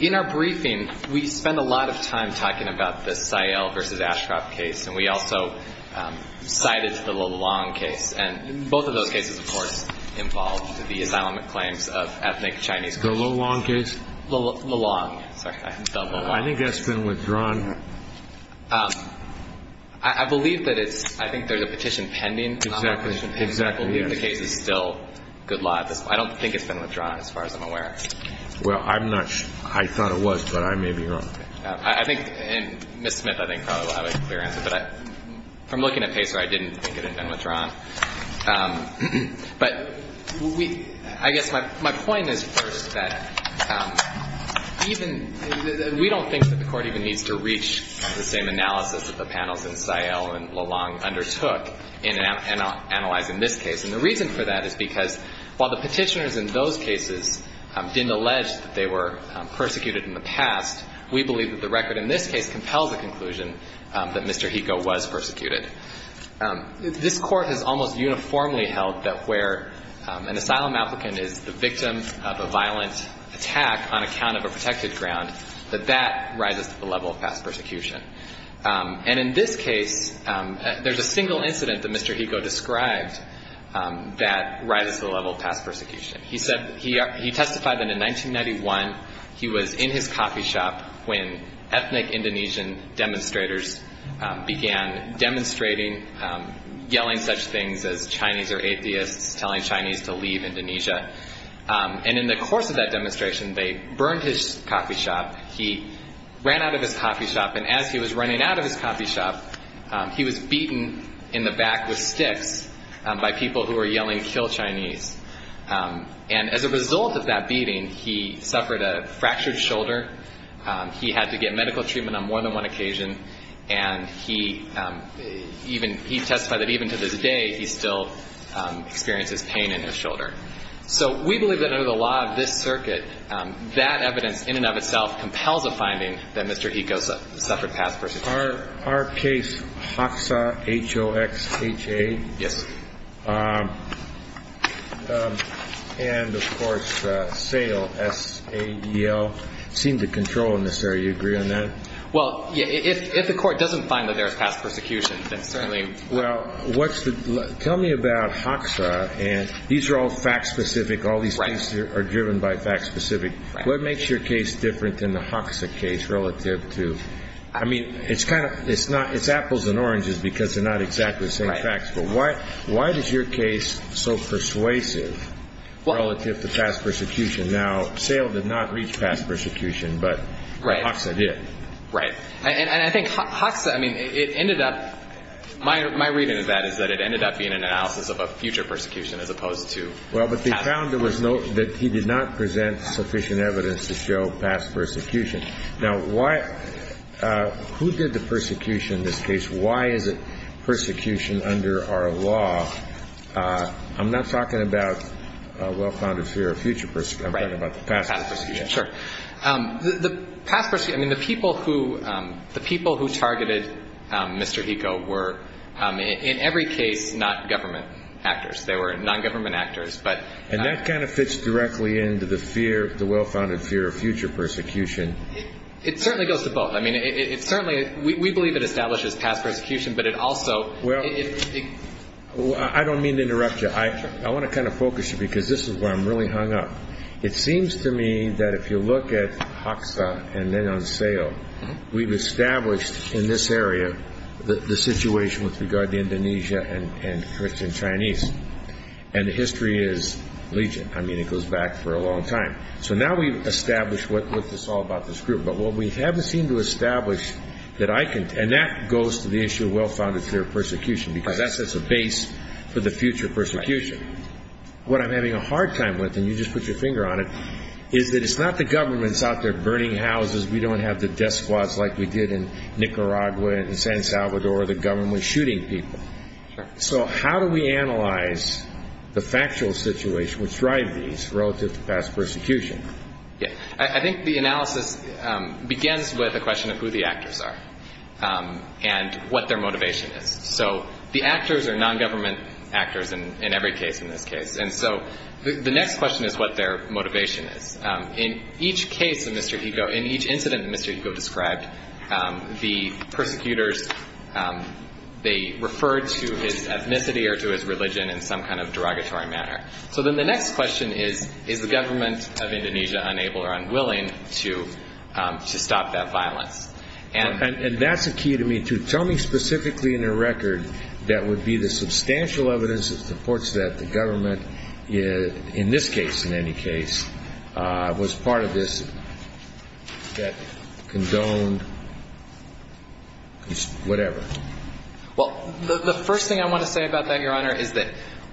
In our briefing, we spent a lot of time talking about the Sayal v. Ashcroft case, and we also cited the LeLong case, and both of those cases, of course, involved the asylum claims of ethnic Chinese. The LeLong case? LeLong. I think that's been withdrawn. I believe that it's, I think there's a petition pending. Exactly. The case is still good law at this point. I don't think it's been withdrawn, as far as I'm aware. Well, I'm not sure. I thought it was, but I may be wrong. I think, and Ms. Smith, I think probably will have a clear answer, but from looking at PACER, I didn't think it had been withdrawn. But we, I guess my point is first that even, we don't think that the Court even needs to reach the same analysis that the panels in Sayal and LeLong undertook in analyzing this case. And the reason for that is because while the petitioners in those cases didn't allege that they were persecuted in the past, we believe that the record in this case compels the conclusion that Mr. Hikoe was persecuted. This Court has almost uniformly held that where an asylum applicant is the victim of a violent attack on account of a protected ground, that that rises to the level of past persecution. And in this case, there's a single incident that Mr. Hikoe described that rises to the level of past persecution. He said, he testified that in 1991, he was in his coffee shop when ethnic Indonesian demonstrators began demonstrating, yelling such things as Chinese are atheists, telling Chinese to leave Indonesia. And in the course of that demonstration, they burned his coffee shop. He ran out of his coffee shop. And as he was running out of his coffee shop, he was beaten in the back with sticks by people who were yelling, kill Chinese. And as a result of that beating, he suffered a fractured shoulder. And he testified that even to this day, he still experiences pain in his shoulder. So we believe that under the law of this circuit, that evidence in and of itself compels a finding that Mr. Hikoe suffered past persecution. Our case, HOXA, H-O-X-H-A. Yes. And of course, SAEL, S-A-E-L, seemed to control in this area. Do you agree on that? Well, if the court doesn't find that there's past persecution, then certainly... Well, tell me about HOXA. And these are all fact-specific. All these cases are driven by fact-specific. What makes your case different than the HOXA case relative to... I mean, it's apples and oranges because they're not exactly the same facts. But why is your case so persuasive relative to past persecution? Now, SAEL did not reach past persecution, but HOXA did. Right. And I think HOXA, I mean, it ended up... My reading of that is that it ended up being an analysis of a future persecution as opposed to... Well, but they found that he did not present sufficient evidence to show past persecution. Now, who did the persecution in this case? Why is it persecution under our law? I'm not talking about a well-founded fear of future persecution. I'm talking about the past persecution. Sure. The past persecution... I mean, the people who targeted Mr. Eco were, in every case, not government actors. They were non-government actors, but... And that kind of fits directly into the fear, the well-founded fear of future persecution. It certainly goes to both. I mean, it certainly... We believe it establishes past persecution, but it also... Well, I don't mean to interrupt you. I want to kind of focus you because this is where I'm really hung up. It seems to me that if you look at Haksa and Leng Aung Sao, we've established in this area the situation with regard to Indonesia and Christian Chinese. And the history is legion. I mean, it goes back for a long time. So now we've established what's all about this group. But what we haven't seemed to establish that I can... And that goes to the issue of well-founded fear of persecution because that sets a base for the future persecution. What I'm having a hard time with, and you just put your finger on it, is that it's not the governments out there burning houses. We don't have the death squads like we did in Nicaragua and San Salvador, the government shooting people. So how do we analyze the factual situation which drive these relative to past persecution? I think the analysis begins with a question of who the actors are and what their motivation is. So the actors are non-government actors in every case in this case. And so the next question is what their motivation is. In each case of Mr. Higo, in each incident Mr. Higo described, the persecutors, they referred to his ethnicity or to his religion in some kind of derogatory manner. So then the next question is, is the government of Indonesia unable or unwilling to stop that violence? And that's a key to me, too. Tell me specifically in your record that would be the substantial evidence that supports that the government, in this case in any case, was part of this that condoned whatever. Well, the first thing I want to say about that, Your Honor, is that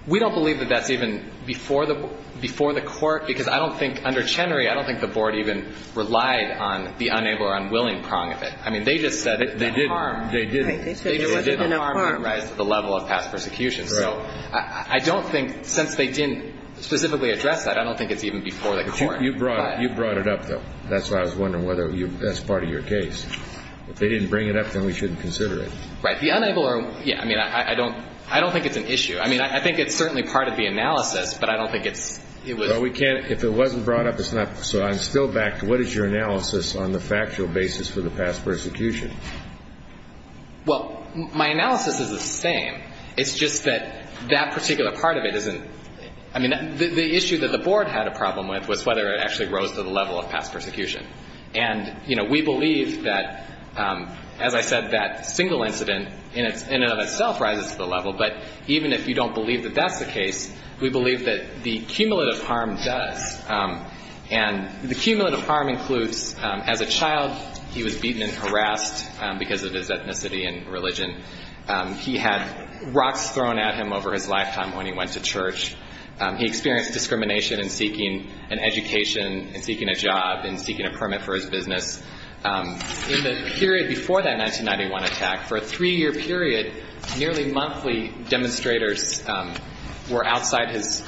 we don't believe that that's even before the court, because I don't think, under Chenery, I don't think the board even relied on the unable or unwilling prong of it. I mean, they just said it. They didn't. They didn't. They said there wasn't enough harm. There wasn't enough harm. Right. The level of past persecution. Right. So I don't think, since they didn't specifically address that, I don't think it's even before the court. But you brought it up, though. That's why I was wondering whether that's part of your case. If they didn't bring it up, then we shouldn't consider it. Right. The unable or unwilling. Yeah. I mean, I don't think it's an issue. I mean, I think it's certainly part of the analysis, but I don't think it's – Well, we can't – if it wasn't brought up, it's not – So I'm still back to what is your analysis on the factual basis for the past persecution? Well, my analysis is the same. It's just that that particular part of it isn't – I mean, the issue that the board had a problem with was whether it actually rose to the level of past persecution. And, you know, we believe that, as I said, that single incident in and of itself rises to the level. But even if you don't believe that that's the case, we believe that the cumulative harm does. And the cumulative harm includes, as a child, he was beaten and harassed because of his ethnicity and religion. He had rocks thrown at him over his lifetime when he went to church. He experienced discrimination in seeking an education, in seeking a job, in seeking a permit for his business. In the period before that 1991 attack, for a three-year period, nearly monthly demonstrators were outside his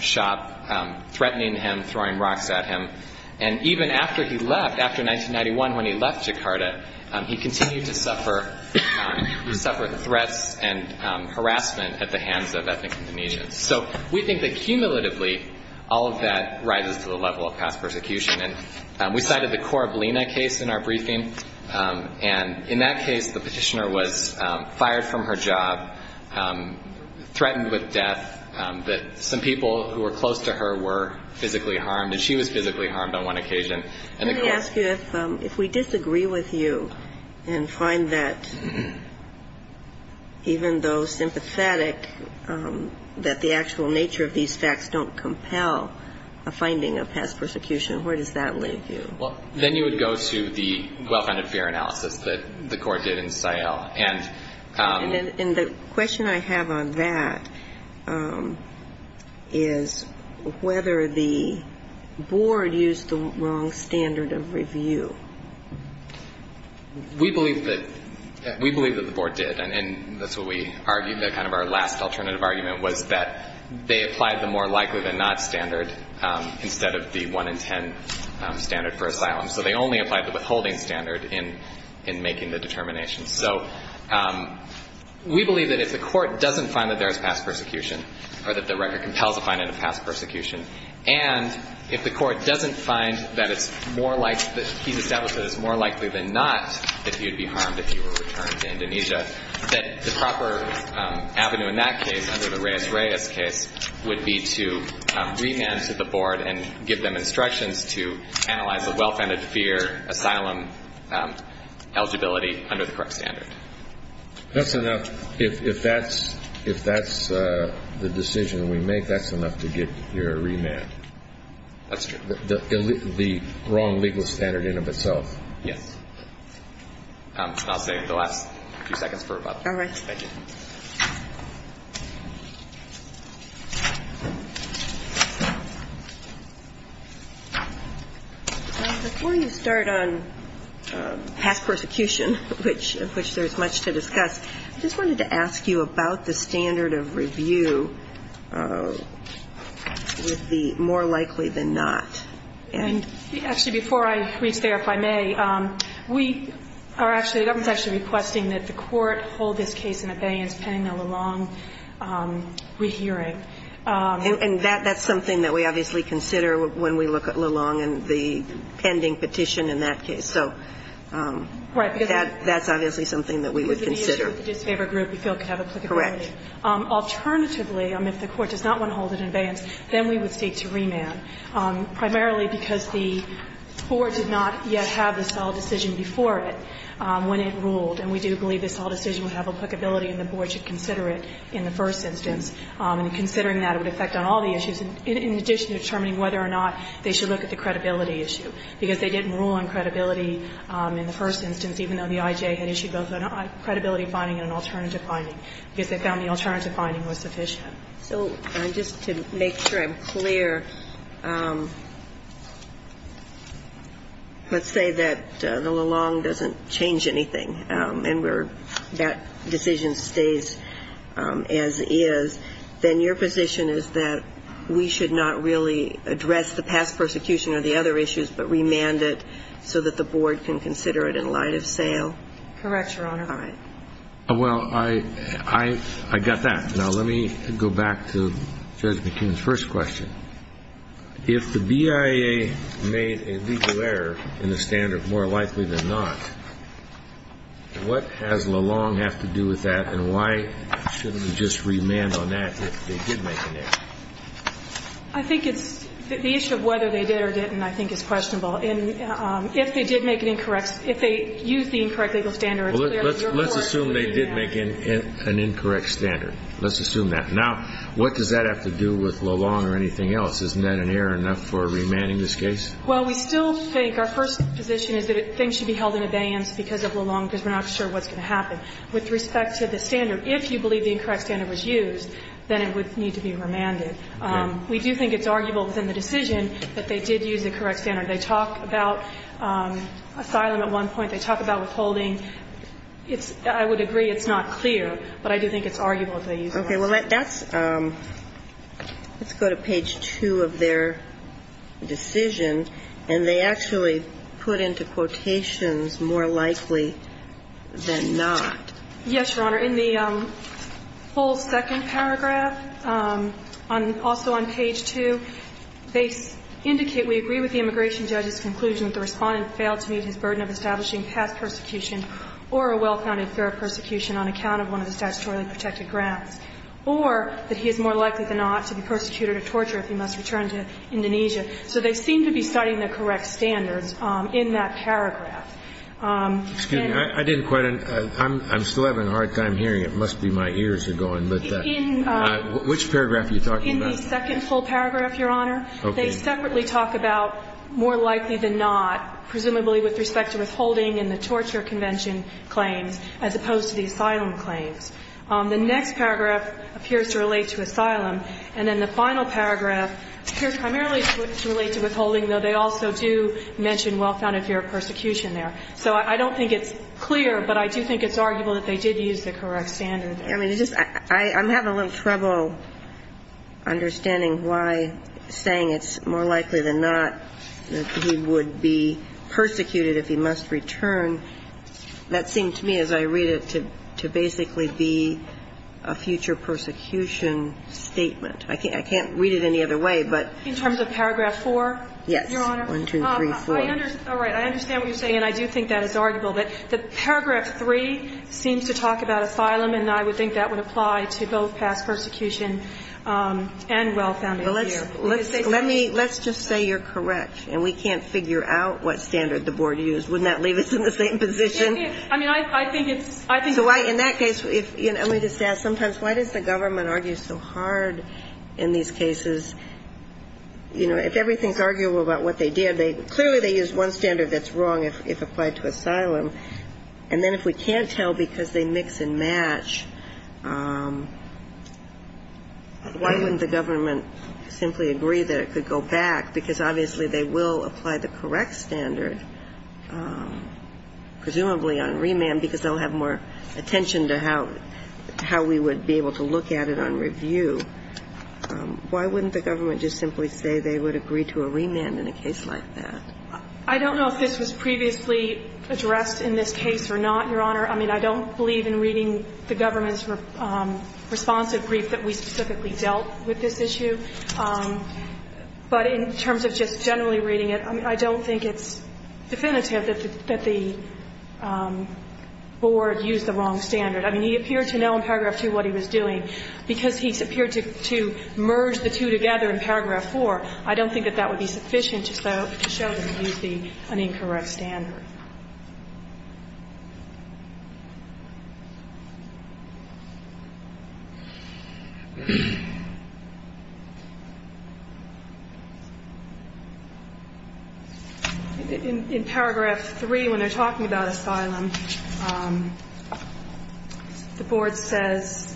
shop, threatening him, throwing rocks at him. And even after he left, after 1991, when he left Jakarta, he continued to suffer threats and harassment at the hands of ethnic Indonesians. So we think that, cumulatively, all of that rises to the level of past persecution. And we cited the Korablina case in our briefing. And in that case, the petitioner was fired from her job, threatened with death. Some people who were close to her were physically harmed, and she was physically harmed on one occasion. Let me ask you, if we disagree with you, and find that even though sympathetic, that the actual nature of these facts don't compel a finding of past persecution, where does that leave you? Then you would go to the well-founded fear analysis that the Court did in Sahel. And the question I have on that is whether the Board used the wrong standard of review. We believe that the Board did. And that's what we argued, that kind of our last alternative argument was that they applied the more likely-than-not standard instead of the 1 in 10 standard for asylum. So they only applied the withholding standard in making the determination. So we believe that if the Court doesn't find that there is past persecution, or that the record compels a finding of past persecution, and if the Court doesn't find that it's more likely, that he's established that it's more likely than not that you'd be harmed if you were returned to Indonesia, that the proper avenue in that case, under the Reyes-Reyes case, would be to remand to the Board and give them instructions to analyze the well-founded fear asylum eligibility under the correct standard. That's enough. If that's the decision we make, that's enough to get your remand. That's true. The wrong legal standard in and of itself. Yes. I'll save the last few seconds for about that. All right. Before you start on past persecution, of which there's much to discuss, I just wanted to ask you about the standard of review with the more likely than not. Actually, before I reach there, if I may, the government's actually requesting that the Court hold this case in abeyance, And I think it's important to note And that's something that we obviously consider when we look at Lelong and the pending petition in that case. So that's obviously something that we would consider. Because of the issue of the disfavored group, we feel it could have applicability. Correct. Alternatively, if the Court does not want to hold it in abeyance, then we would seek to remand, primarily because the Board did not yet have the solid decision before it when it ruled, and we do believe the solid decision would have applicability and the Board should consider it in the first instance. And considering that, it would affect on all the issues, in addition to determining whether or not they should look at the credibility issue. Because they didn't rule on credibility in the first instance, even though the I.J. had issued both a credibility finding and an alternative finding, because they found the alternative finding was sufficient. So just to make sure I'm clear, let's say that the Lelong doesn't change anything, and that decision stays as is, then your position is that we should not really address the past persecution or the other issues, but remand it so that the Board can consider it in light of sale? Correct, Your Honor. All right. Well, I got that. Now let me go back to Judge McKeon's first question. If the BIA made a legal error in the standard, more likely than not, what has Lelong have to do with that and why shouldn't we just remand on that if they did make an error? I think it's the issue of whether they did or didn't I think is questionable. And if they did make an incorrect, if they used the incorrect legal standard, it's clear that your Board should remand. Well, let's assume they did make an incorrect standard. Let's assume that. Now, what does that have to do with Lelong or anything else? Isn't that an error enough for remanding this case? Well, we still think our first position is that things should be held in abeyance because of Lelong because we're not sure what's going to happen. With respect to the standard, if you believe the incorrect standard was used, then it would need to be remanded. We do think it's arguable within the decision that they did use the correct standard. They talk about asylum at one point. They talk about withholding. I would agree it's not clear, but I do think it's arguable if they used it. Okay. Well, let's go to page 2 of their decision. And they actually put into quotations more likely than not. Yes, Your Honor. In the full second paragraph, also on page 2, they indicate, we agree with the immigration judge's conclusion that the Respondent failed to meet his burden of establishing past persecution or a well-founded fear of persecution on account of one of the statutorily protected grounds, or that he is more likely than not to be persecuted or tortured if he must return to Indonesia. So they seem to be citing the correct standards in that paragraph. Excuse me. I didn't quite understand. I'm still having a hard time hearing it. It must be my ears are going. Which paragraph are you talking about? In the second full paragraph, Your Honor. Okay. They separately talk about more likely than not, presumably with respect to withholding and the torture convention claims, as opposed to the asylum claims. The next paragraph appears to relate to asylum. And then the final paragraph appears primarily to relate to withholding, though they also do mention well-founded fear of persecution there. So I don't think it's clear, but I do think it's arguable that they did use the correct standard there. I mean, it's just, I'm having a little trouble understanding why saying it's more likely than not that he would be persecuted if he must return, that seemed to me as I read it to basically be a future persecution statement. I can't read it any other way, but... In terms of paragraph 4? Yes. Your Honor. 1, 2, 3, 4. All right. I understand what you're saying and I do think that it's arguable that paragraph 3 seems to talk about asylum and I would think that would apply to both past persecution and well-founded fear. Let's just say you're correct and we can't figure out what standard the Board used. Wouldn't that leave us in the same position? I mean, I think it's... So in that case, let me just ask sometimes, why does the government argue so hard in these cases? You know, if everything's arguable about what they did, clearly they used one standard that's wrong if applied to asylum and then if we can't tell because they mix and match, why wouldn't the government simply agree that it could go back because obviously they will apply the correct standard presumably on remand because they'll have more attention to how we would be able to look at it on review. Why wouldn't the government just simply say they would agree to a remand in a case like that? I don't know if this was previously addressed in this case or not, Your Honor. I mean, I don't believe in reading the government's responsive brief that we specifically dealt with this issue. But in terms of just generally reading it, I don't think it's definitive that the Board used the wrong standard. I mean, he appeared to know in Paragraph 2 what he was doing because he appeared to merge the two together in Paragraph 4. I don't think that that would be sufficient to show that he used an incorrect standard. In Paragraph 3, when they're talking about asylum, the Board says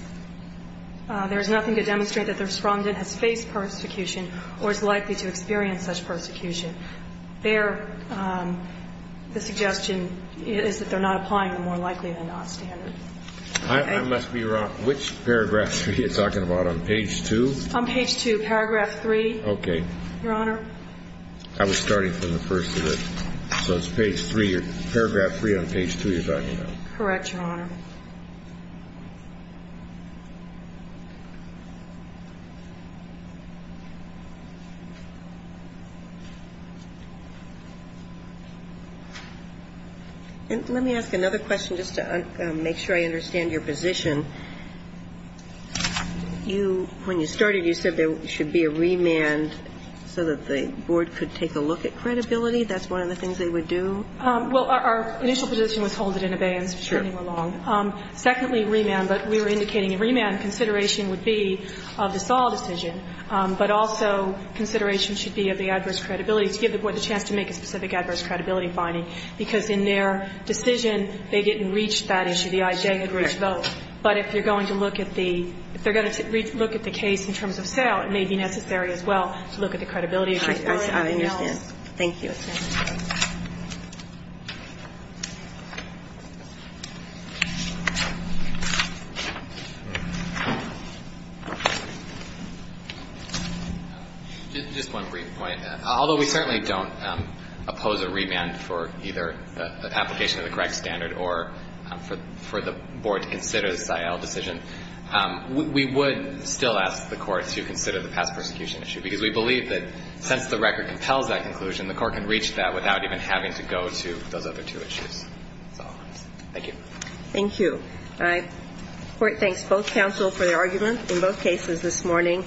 there is nothing to demonstrate that the respondent has faced persecution or is likely to experience such persecution. There, the suggestion is that they're not applying the more likely-than-not standard. I must be wrong. Which Paragraph 3 are you talking about? On Page 2? On Page 2, Paragraph 3, Your Honor. I was starting from the first of it. So it's Paragraph 3 on Page 2. Correct, Your Honor. Let me ask another question just to make sure I understand your position. When you started, you said there should be a remand so that the Board could take a look at credibility. That's one of the things they would do? Well, our initial position was hold it in abeyance. Certainly, we're wrong. Secondly, remand, but we were indicating a remand consideration would be of the Saul decision, but also consideration should be of the adverse credibility to give the Board the chance to make a specific adverse credibility finding because in their decision, they didn't reach that issue. The IJ had reached both. But if you're going to look at the case in terms of sale, it may be necessary as well to look at the credibility of your client. I understand. Thank you. Thank you. Just one brief point. Although we certainly don't oppose a remand for either the application of the correct standard or for the Board to consider the Sael decision, we would still ask the Court to consider the past persecution issue because we believe that since the record compels that conclusion, the Court can consider those other two issues. Thank you. Thank you. The Court thanks both counsel for their argument in both cases this morning.